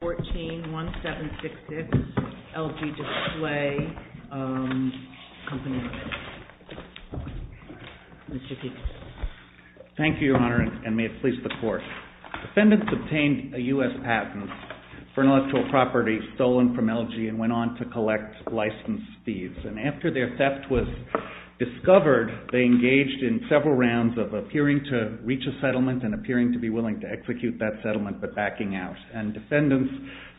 141766 LG Display Co., Ltd. Thank you, Your Honor, and may it please the Court. Defendants obtained a U.S. patent for an intellectual property stolen from LG and went on to collect license fees. After their theft was discovered, they engaged in several rounds of appearing to reach a settlement and appearing to be willing to execute that settlement but backing out. Defendants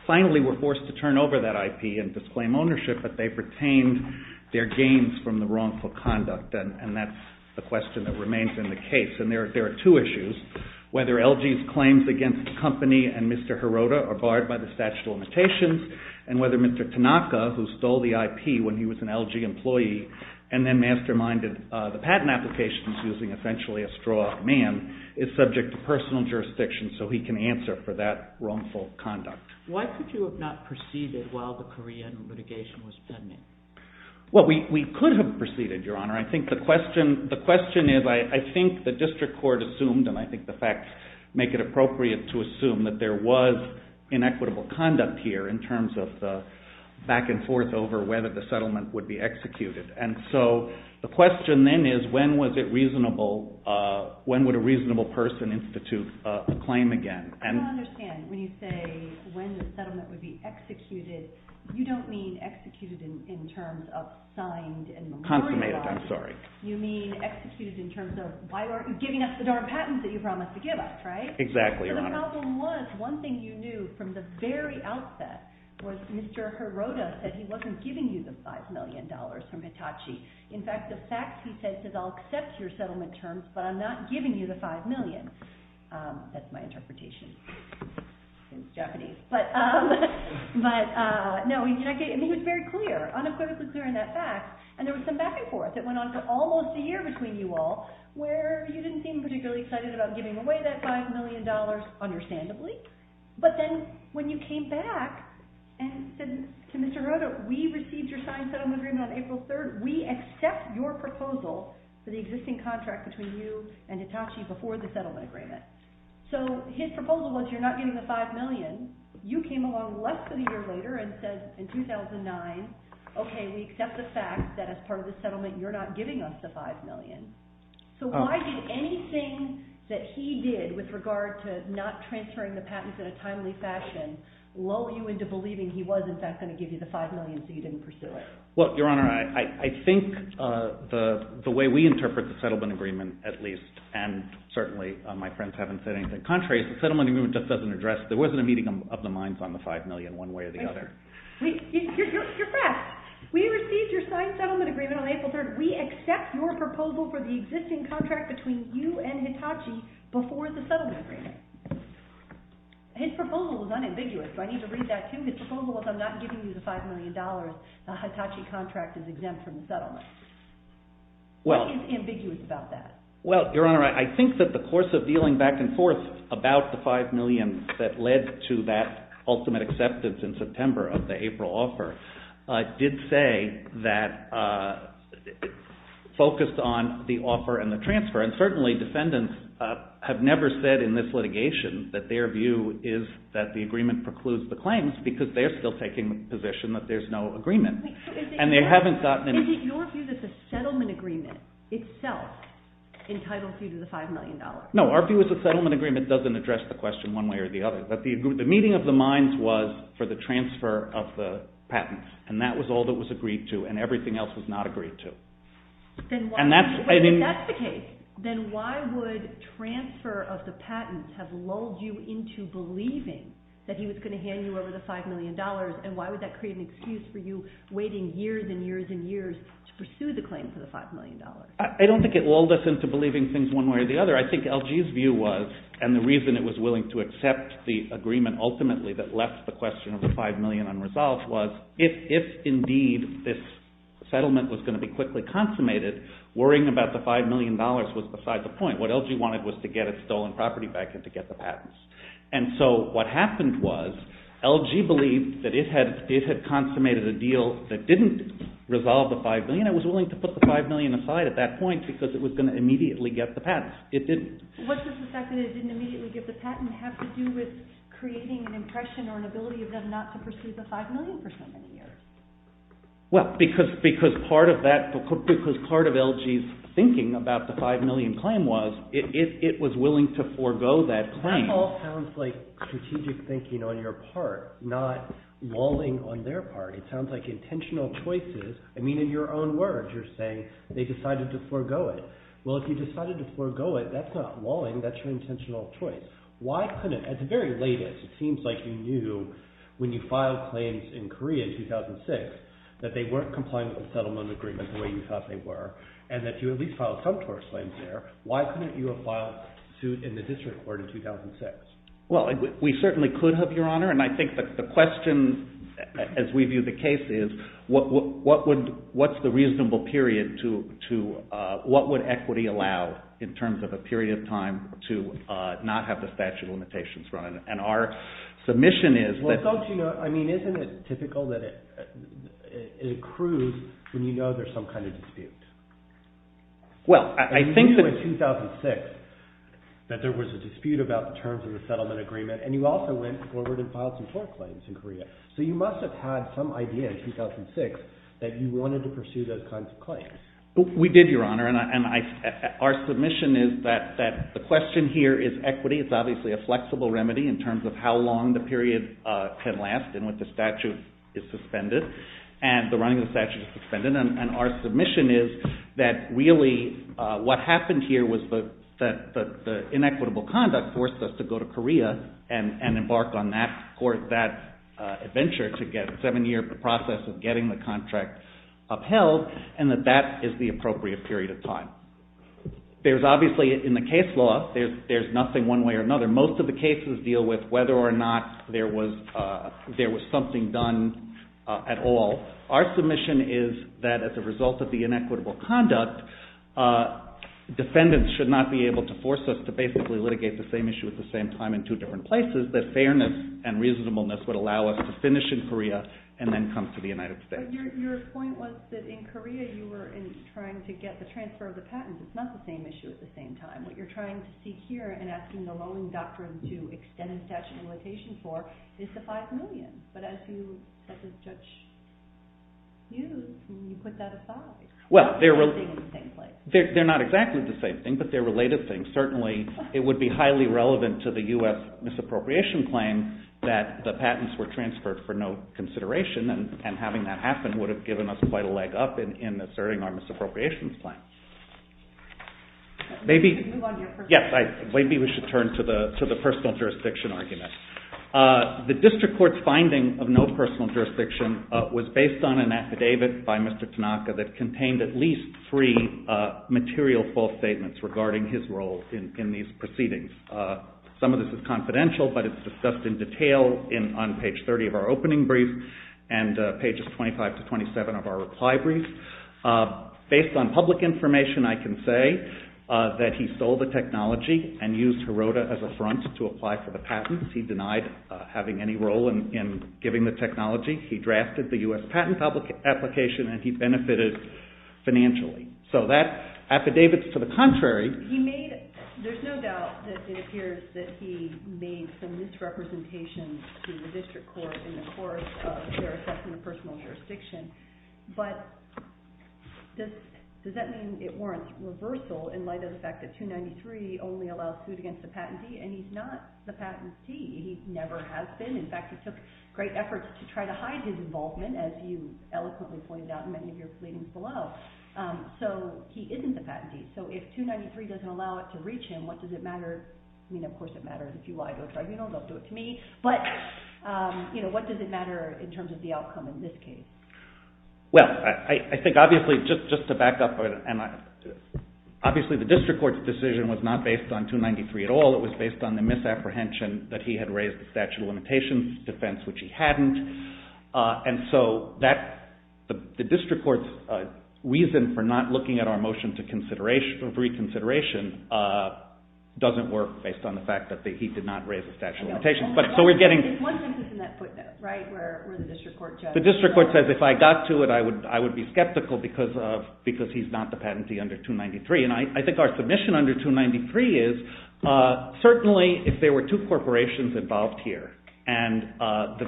finally were forced to turn over that IP and disclaim ownership, but they retained their gains from the wrongful conduct, and that's the question that remains in the case. There are two issues. Whether LG's claims against the company and Mr. Hirota are barred by the statute of limitations and whether Mr. Tanaka, who stole the IP when he was an LG employee and then masterminded the patent applications using essentially a straw man, is subject to personal jurisdiction so he can answer for that wrongful conduct. Why could you have not proceeded while the Korean litigation was pending? Well, we could have proceeded, Your Honor. I think the question is I think the district court assumed, and I think the facts make it appropriate to assume that there was inequitable conduct here in terms of the back and forth over whether the settlement would be executed. And so the question then is when would a reasonable person institute a claim again? I don't understand. When you say when the settlement would be executed, you don't mean executed in terms of signed and memorialized. Consummated, I'm sorry. You mean executed in terms of why aren't you giving us the darn patents that you promised to give us, right? Exactly, Your Honor. So the problem was one thing you knew from the very outset was Mr. Hirota said he wasn't giving you the $5 million from Hitachi. In fact, the fact he said is I'll accept your settlement terms, but I'm not giving you the $5 million. That's my interpretation. It's Japanese. But no, he was very clear, unequivocally clear in that fact, and there was some back and forth that went on for almost a year between you all where you didn't seem particularly excited about giving away that $5 million, understandably. But then when you came back and said to Mr. Hirota, we received your signed settlement agreement on April 3rd. We accept your proposal for the existing contract between you and Hitachi before the settlement agreement. So his proposal was you're not giving the $5 million. You came along less than a year later and said in 2009, okay, we accept the fact that as part of the settlement you're not giving us the $5 million. So why did anything that he did with regard to not transferring the patents in a timely fashion lull you into believing he was in fact going to give you the $5 million so you didn't pursue it? Well, Your Honor, I think the way we interpret the settlement agreement at least, and certainly my friends haven't said anything contrary, is the settlement agreement just doesn't address, there wasn't a meeting of the minds on the $5 million one way or the other. You're correct. We received your signed settlement agreement on April 3rd. We accept your proposal for the existing contract between you and Hitachi before the settlement agreement. His proposal was unambiguous. Do I need to read that to you? His proposal was I'm not giving you the $5 million. The Hitachi contract is exempt from the settlement. What is ambiguous about that? Well, Your Honor, I think that the course of dealing back and forth about the $5 million that led to that ultimate acceptance in September of the April offer did say that it focused on the offer and the transfer. And certainly defendants have never said in this litigation that their view is that the agreement precludes the claims because they're still taking the position that there's no agreement. And they haven't gotten any… Is it your view that the settlement agreement itself entitles you to the $5 million? No, our view is the settlement agreement doesn't address the question one way or the other. The meeting of the minds was for the transfer of the patents, and that was all that was agreed to, and everything else was not agreed to. If that's the case, then why would transfer of the patents have lulled you into believing that he was going to hand you over the $5 million, and why would that create an excuse for you waiting years and years and years to pursue the claim for the $5 million? I don't think it lulled us into believing things one way or the other. I think LG's view was, and the reason it was willing to accept the agreement ultimately that left the question of the $5 million unresolved was, if indeed this settlement was going to be quickly consummated, worrying about the $5 million was beside the point. What LG wanted was to get its stolen property back and to get the patents. And so what happened was LG believed that it had consummated a deal that didn't resolve the $5 million. It was willing to put the $5 million aside at that point because it was going to immediately get the patents. It didn't. What does the fact that it didn't immediately get the patent have to do with creating an impression or an ability of them not to pursue the $5 million for so many years? Well, because part of LG's thinking about the $5 million claim was it was willing to forego that claim. That all sounds like strategic thinking on your part, not walling on their part. It sounds like intentional choices. I mean in your own words you're saying they decided to forego it. Well, if you decided to forego it, that's not walling. That's your intentional choice. Why couldn't at the very latest it seems like you knew when you filed claims in Korea in 2006 that they weren't complying with the settlement agreement the way you thought they were and that you at least filed some tourist claims there. Why couldn't you have filed suit in the district court in 2006? Well, we certainly could have, Your Honor, and I think the question as we view the case is what's the reasonable period to what would equity allow in terms of a period of time to not have the statute of limitations run? And our submission is that Well, don't you know, I mean isn't it typical that it accrues when you know there's some kind of dispute? Well, I think that You knew in 2006 that there was a dispute about the terms of the settlement agreement and you also went forward and filed some court claims in Korea. So you must have had some idea in 2006 that you wanted to pursue those kinds of claims. We did, Your Honor, and our submission is that the question here is equity. It's obviously a flexible remedy in terms of how long the period can last and when the statute is suspended and the running of the statute is suspended, and our submission is that really what happened here was that the inequitable conduct forced us to go to Korea and embark on that adventure to get a seven-year process of getting the contract upheld and that that is the appropriate period of time. There's obviously in the case law, there's nothing one way or another. Most of the cases deal with whether or not there was something done at all. Our submission is that as a result of the inequitable conduct, defendants should not be able to force us to basically litigate the same issue at the same time in two different places that fairness and reasonableness would allow us to finish in Korea and then come to the United States. But your point was that in Korea you were trying to get the transfer of the patent. It's not the same issue at the same time. What you're trying to seek here and asking the loaning doctrine to extend a statute of limitation for is the five million. But as you, such as Judge Hughes, you put that aside. Well, they're not exactly the same thing, but they're related things. Certainly, it would be highly relevant to the U.S. misappropriation claim that the patents were transferred for no consideration and having that happen would have given us quite a leg up in asserting our misappropriation claim. Maybe we should turn to the personal jurisdiction argument. The district court's finding of no personal jurisdiction was based on an affidavit by Mr. Tanaka that contained at least three material false statements regarding his role in these proceedings. Some of this is confidential, but it's discussed in detail on page 30 of our opening brief and pages 25 to 27 of our reply brief. Based on public information, I can say that he sold the technology and used HIROTA as a front to apply for the patents. He denied having any role in giving the technology. He drafted the U.S. patent application, and he benefited financially. So that affidavit's to the contrary. There's no doubt that it appears that he made some misrepresentation to the district court in the course of their assessment of personal jurisdiction, but does that mean it warrants reversal in light of the fact that 293 only allows suit against the patentee and he's not the patentee. He never has been. In fact, it took great efforts to try to hide his involvement, as you eloquently pointed out in many of your pleadings below. So he isn't the patentee. So if 293 doesn't allow it to reach him, what does it matter? I mean, of course it matters. If you lie to a tribunal, they'll do it to me. But what does it matter in terms of the outcome in this case? Well, I think obviously, just to back up, obviously the district court's decision was not based on 293 at all. It was based on the misapprehension that he had raised the statute of limitations defense, which he hadn't. And so the district court's reason for not looking at our motion of reconsideration doesn't work based on the fact that he did not raise the statute of limitations. So we're getting – There's one sentence in that footnote, right, where the district court – The district court says if I got to it, I would be skeptical because he's not the patentee under 293. And I think our submission under 293 is certainly if there were two corporations involved here and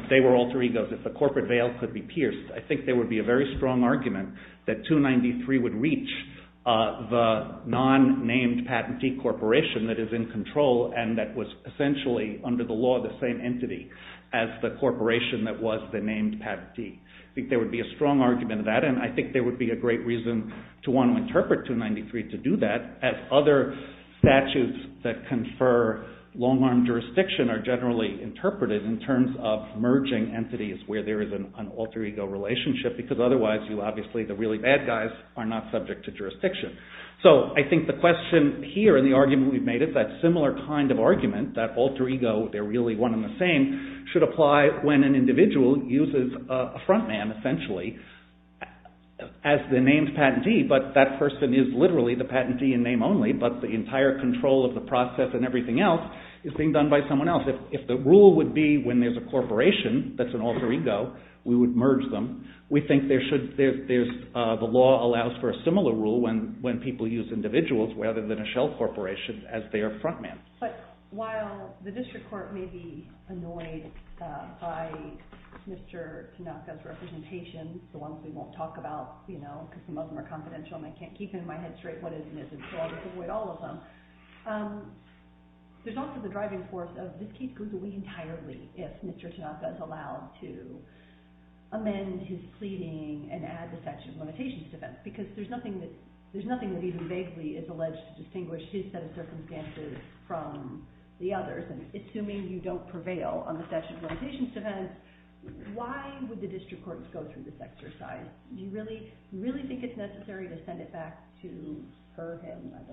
they were alter egos, if the corporate veil could be pierced, I think there would be a very strong argument that 293 would reach the non-named patentee corporation that is in control and that was essentially under the law the same entity as the corporation that was the named patentee. I think there would be a strong argument of that and I think there would be a great reason to want to interpret 293 to do that as other statutes that confer long-arm jurisdiction are generally interpreted in terms of merging entities where there is an alter ego relationship because otherwise you obviously, the really bad guys, are not subject to jurisdiction. So I think the question here and the argument we've made is that similar kind of argument, that alter ego, they're really one and the same, should apply when an individual uses a front man essentially as the named patentee but that person is literally the patentee in name only but the entire control of the process and everything else is being done by someone else. If the rule would be when there's a corporation that's an alter ego, we would merge them. We think the law allows for a similar rule when people use individuals rather than a shell corporation as their front man. But while the district court may be annoyed by Mr. Tanaka's representation, the ones we won't talk about because some of them are confidential and I can't keep in my head straight what is and isn't so I'll just avoid all of them, there's also the driving force of this case goes away entirely if Mr. Tanaka is allowed to amend his pleading and add the section of limitations to this because there's nothing that even vaguely is alleged to distinguish his set of circumstances from the others. Assuming you don't prevail on the section of limitations to this, why would the district courts go through this exercise? Do you really think it's necessary to send it back to her him? Do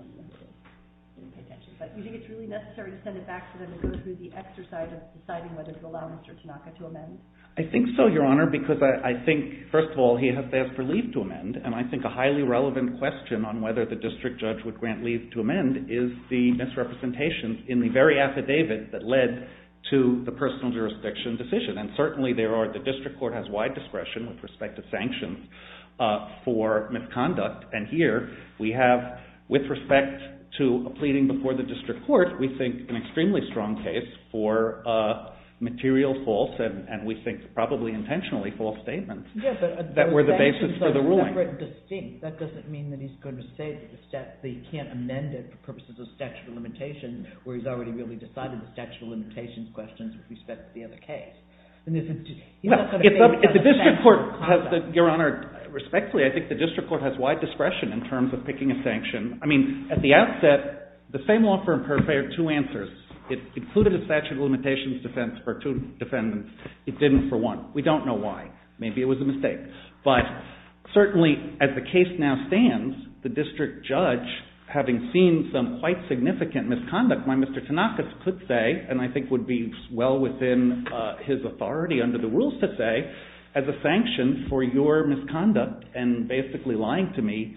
you think it's really necessary to send it back to them and go through the exercise of deciding whether to allow Mr. Tanaka to amend? I think so, Your Honor, because I think first of all he has asked for leave to amend and I think a highly relevant question on whether the district judge would grant leave to amend is the misrepresentation in the very affidavit that led to the personal jurisdiction decision and certainly the district court has wide discretion with respect to sanctions for misconduct and here we have, with respect to a pleading before the district court, we think an extremely strong case for material false and we think probably intentionally false statements that were the basis for the ruling. That doesn't mean that he's going to say that he can't amend it for purposes of statute of limitations where he's already really decided the statute of limitations questions with respect to the other case. Your Honor, respectfully, I think the district court has wide discretion in terms of picking a sanction. I mean, at the outset, the same law firm prepared two answers. It included a statute of limitations defense for two defendants. It didn't for one. We don't know why. Maybe it was a mistake. But certainly as the case now stands, the district judge, having seen some quite significant misconduct, why Mr. Tanaka could say, and I think would be well within his authority under the rules to say, as a sanction for your misconduct and basically lying to me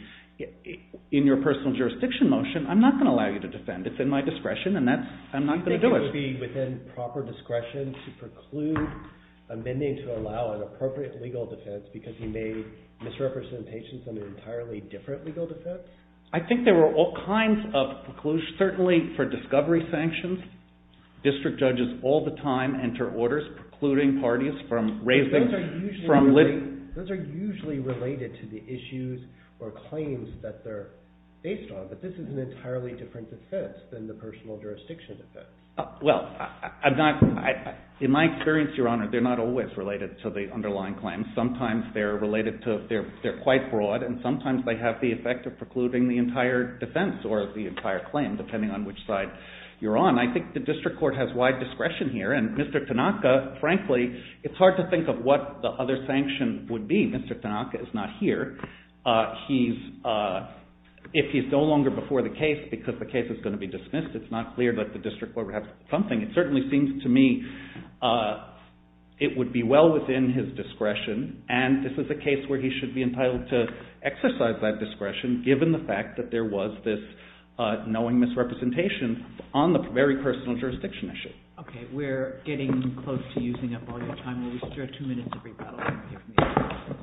in your personal jurisdiction motion, I'm not going to allow you to defend. It's in my discretion and I'm not going to do it. Do you think it would be within proper discretion to preclude amending to allow an appropriate legal defense because he made misrepresentations on an entirely different legal defense? I think there were all kinds of preclusions, certainly for discovery sanctions. District judges all the time enter orders precluding parties from raising from litigation. Those are usually related to the issues or claims that they're based on, but this is an entirely different defense than the personal jurisdiction defense. Well, in my experience, Your Honor, they're not always related to the underlying claims. Sometimes they're quite broad and sometimes they have the effect of precluding the entire defense or the entire claim depending on which side you're on. I think the district court has wide discretion here, and Mr. Tanaka, frankly, it's hard to think of what the other sanction would be. Mr. Tanaka is not here. If he's no longer before the case because the case is going to be dismissed, it's not clear that the district court would have something. It certainly seems to me it would be well within his discretion, and this is a case where he should be entitled to exercise that discretion given the fact that there was this knowing misrepresentation on the very personal jurisdiction issue. Okay. We're getting close to using up all your time. Will you spare two minutes of rebuttal?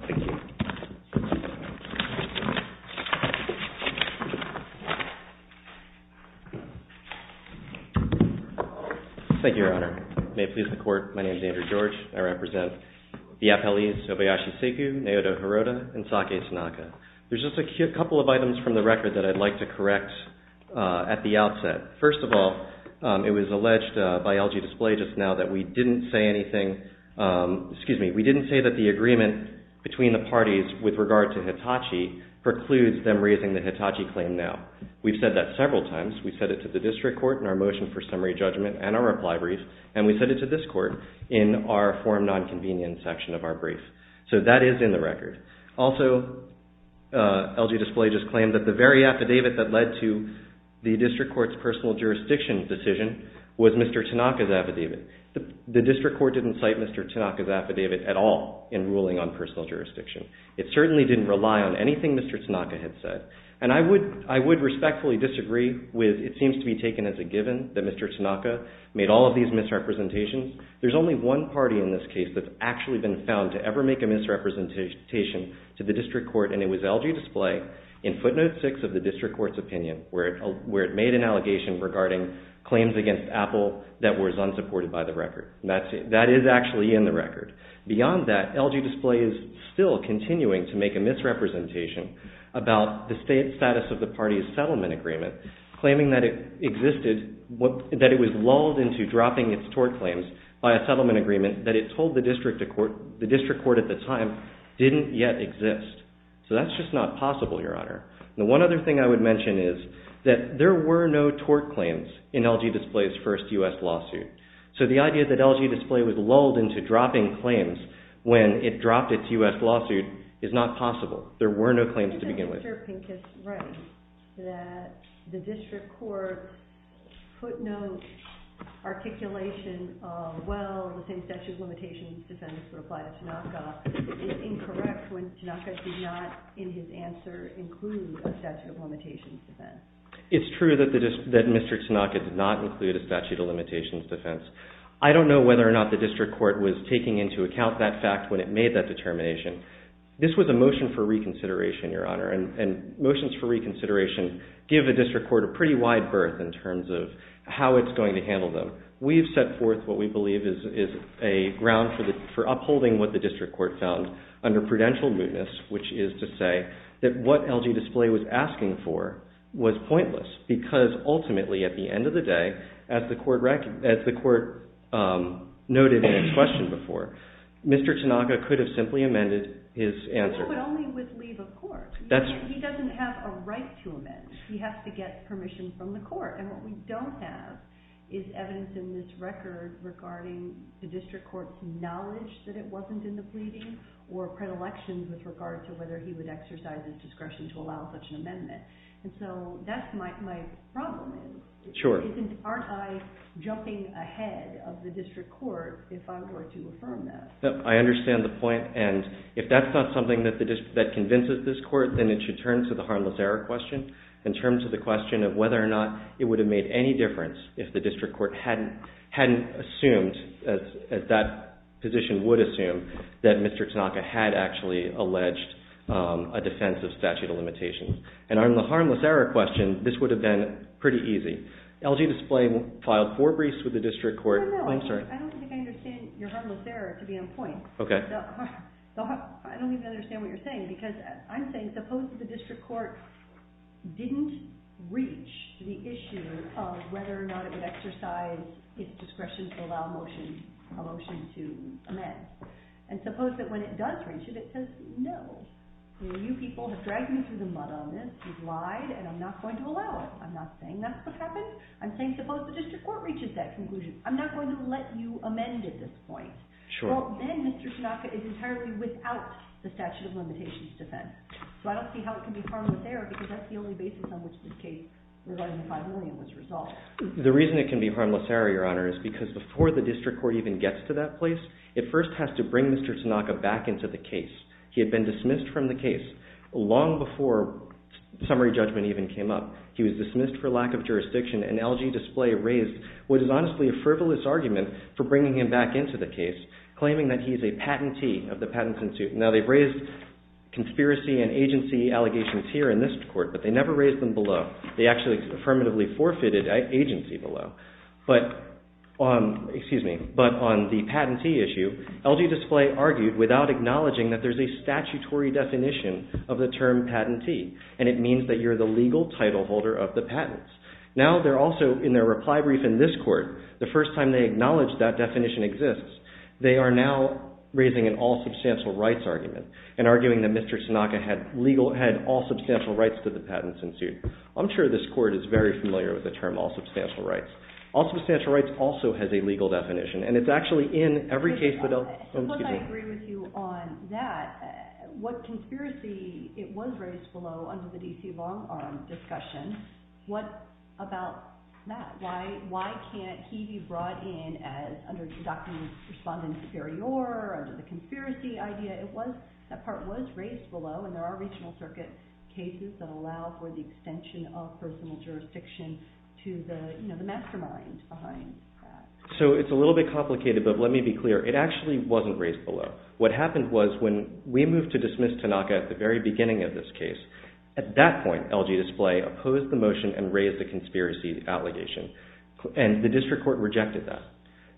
Thank you. Thank you, Your Honor. May it please the Court, my name is Andrew George. I represent the FLEs, Obayashi Seigu, Naoto Hirota, and Saki Tanaka. There's just a couple of items from the record that I'd like to correct at the outset. First of all, it was alleged by LG Display just now that we didn't say anything, excuse me, we didn't say that the agreement between the parties with regard to Hitachi precludes them raising the Hitachi claim now. We've said that several times. We said it to the district court in our motion for summary judgment and our reply brief, and we said it to this court in our forum nonconvenience section of our brief. So that is in the record. Also, LG Display just claimed that the very affidavit that led to the district court's personal jurisdiction decision was Mr. Tanaka's affidavit. The district court didn't cite Mr. Tanaka's affidavit at all in ruling on personal jurisdiction. It certainly didn't rely on anything Mr. Tanaka had said. And I would respectfully disagree with it seems to be taken as a given that Mr. Tanaka made all of these misrepresentations. There's only one party in this case that's actually been found to ever make a misrepresentation to the district court, and it was LG Display in footnote 6 of the district court's opinion where it made an allegation regarding claims against Apple that was unsupported by the record. That is actually in the record. Beyond that, LG Display is still continuing to make a misrepresentation about the status of the party's settlement agreement, claiming that it existed, that it was lulled into dropping its tort claims by a settlement agreement that it told the district court at the time didn't yet exist. So that's just not possible, Your Honor. The one other thing I would mention is that there were no tort claims in LG Display's first U.S. lawsuit. So the idea that LG Display was lulled into dropping claims when it dropped its U.S. lawsuit is not possible. There were no claims to begin with. Mr. Pincus writes that the district court footnote articulation of, well, the same statute of limitations defense would apply to Tanaka is incorrect when Tanaka did not, in his answer, include a statute of limitations defense. It's true that Mr. Tanaka did not include a statute of limitations defense. I don't know whether or not the district court was taking into account that fact when it made that determination. This was a motion for reconsideration, Your Honor, and motions for reconsideration give a district court a pretty wide berth in terms of how it's going to handle them. We've set forth what we believe is a ground for upholding what the district court found under prudential mootness, which is to say that what LG Display was asking for was pointless because, ultimately, at the end of the day, as the court noted in its question before, Mr. Tanaka could have simply amended his answer. He could only with leave of court. He doesn't have a right to amend. He has to get permission from the court. And what we don't have is evidence in this record regarding the district court's knowledge that it wasn't in the pleading or predilections with regard to whether he would exercise his discretion to allow such an amendment. And so that's my problem. Sure. Aren't I jumping ahead of the district court if I were to affirm that? I understand the point, and if that's not something that convinces this court, then it should turn to the harmless error question in terms of the question of whether or not it would have made any difference if the district court hadn't assumed, as that position would assume, that Mr. Tanaka had actually alleged a defense of statute of limitations. And on the harmless error question, this would have been pretty easy. LG Display filed four briefs with the district court. No, no. I'm sorry. I don't think I understand your harmless error, to be on point. Okay. I don't even understand what you're saying, because I'm saying suppose that the district court didn't reach the issue of whether or not it would exercise its discretion to allow a motion to amend. And suppose that when it does reach it, it says, no, you people have dragged me through the mud on this. You've lied, and I'm not going to allow it. No, I'm not saying that's what happened. I'm saying suppose the district court reaches that conclusion. I'm not going to let you amend at this point. Sure. Well, then Mr. Tanaka is entirely without the statute of limitations defense. So I don't see how it can be harmless error, because that's the only basis on which this case regarding the 5 million was resolved. The reason it can be harmless error, Your Honor, is because before the district court even gets to that place, it first has to bring Mr. Tanaka back into the case. He had been dismissed from the case long before summary judgment even came up. He was dismissed for lack of jurisdiction, and LG Display raised what is honestly a frivolous argument for bringing him back into the case, claiming that he is a patentee of the Patents and Suits. Now, they've raised conspiracy and agency allegations here in this court, but they never raised them below. They actually affirmatively forfeited agency below. But on the patentee issue, LG Display argued without acknowledging that there's a statutory definition of the term patentee. And it means that you're the legal title holder of the patents. Now, they're also, in their reply brief in this court, the first time they acknowledge that definition exists, they are now raising an all-substantial rights argument and arguing that Mr. Tanaka had all-substantial rights to the Patents and Suits. I'm sure this court is very familiar with the term all-substantial rights. All-substantial rights also has a legal definition, and it's actually in every case that LG What conspiracy, it was raised below under the D.C. Long Arm discussion. What about that? Why can't he be brought in as under the doctrine of respondent superior, under the conspiracy idea? It was, that part was raised below, and there are regional circuit cases that allow for the extension of personal jurisdiction to the mastermind behind that. So, it's a little bit complicated, but let me be clear. It actually wasn't raised below. What happened was, when we moved to dismiss Tanaka at the very beginning of this case, at that point, LG Display opposed the motion and raised the conspiracy allegation, and the district court rejected that.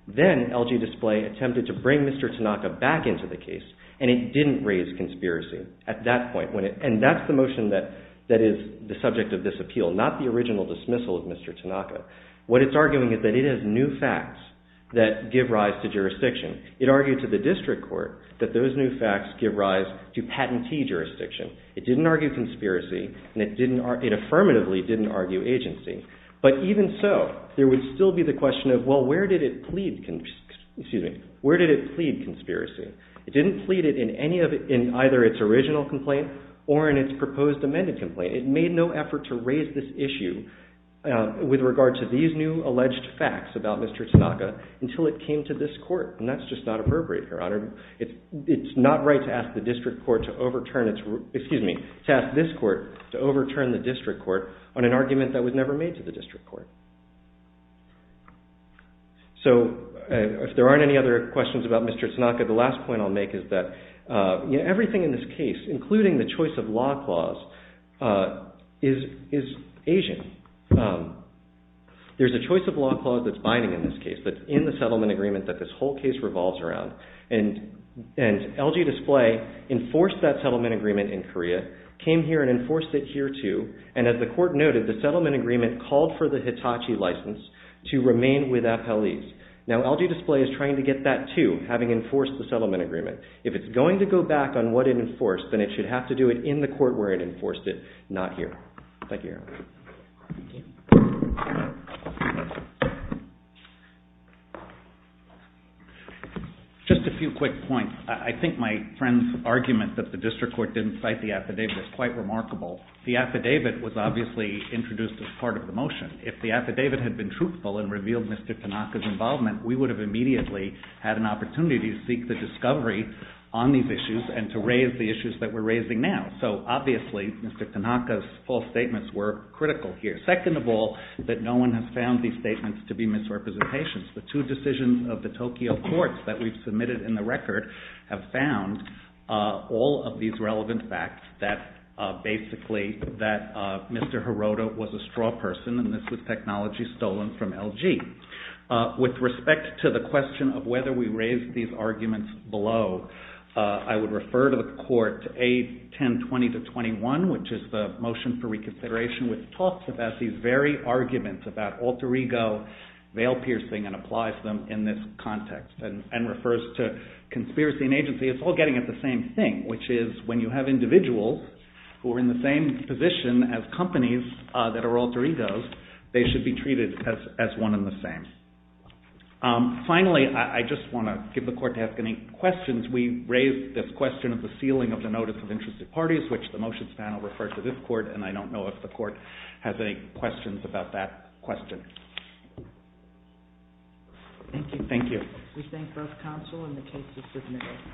Then, LG Display attempted to bring Mr. Tanaka back into the case, and it didn't raise conspiracy at that point, and that's the motion that is the subject of this appeal, not the original dismissal of Mr. Tanaka. What it's arguing is that it is new facts that give rise to jurisdiction. It argued to the district court that those new facts give rise to patentee jurisdiction. It didn't argue conspiracy, and it affirmatively didn't argue agency, but even so, there would still be the question of, well, where did it plead, excuse me, where did it plead conspiracy? It didn't plead it in any of, in either its original complaint or in its proposed amended complaint. It made no effort to raise this issue with regard to these new alleged facts about Mr. Tanaka, and that's just not appropriate, Your Honor. It's not right to ask the district court to overturn its, excuse me, to ask this court to overturn the district court on an argument that was never made to the district court. So, if there aren't any other questions about Mr. Tanaka, the last point I'll make is that everything in this case, including the choice of law clause, is Asian. There's a choice of law clause that's binding in this case, that's in the settlement agreement that this whole case revolves around. And LG Display enforced that settlement agreement in Korea, came here and enforced it here too, and as the court noted, the settlement agreement called for the Hitachi license to remain with appellees. Now, LG Display is trying to get that too, having enforced the settlement agreement. If it's going to go back on what it enforced, then it should have to do it in the court Thank you, Your Honor. Thank you. Just a few quick points. I think my friend's argument that the district court didn't cite the affidavit is quite remarkable. The affidavit was obviously introduced as part of the motion. If the affidavit had been truthful and revealed Mr. Tanaka's involvement, we would have immediately had an opportunity to seek the discovery on these issues and to raise the issues that we're raising now. So obviously, Mr. Tanaka's false statements were critical here. Second of all, that no one has found these statements to be misrepresentations. The two decisions of the Tokyo courts that we've submitted in the record have found all of these relevant facts that basically that Mr. Hirota was a straw person and this was technology stolen from LG. With respect to the question of whether we raised these arguments below, I would refer to the court A1020-21, which is the motion for reconsideration, which talks about these very arguments about alter ego, veil piercing, and applies them in this context and refers to conspiracy and agency. It's all getting at the same thing, which is when you have individuals who are in the same position as companies that are alter egos, they should be treated as one and the same. Finally, I just want to give the court to ask any questions. We raised this question of the sealing of the notice of interested parties, which the motions panel referred to this court, and I don't know if the court has any questions about that question. Thank you. Thank you. We thank both counsel and the case is submitted.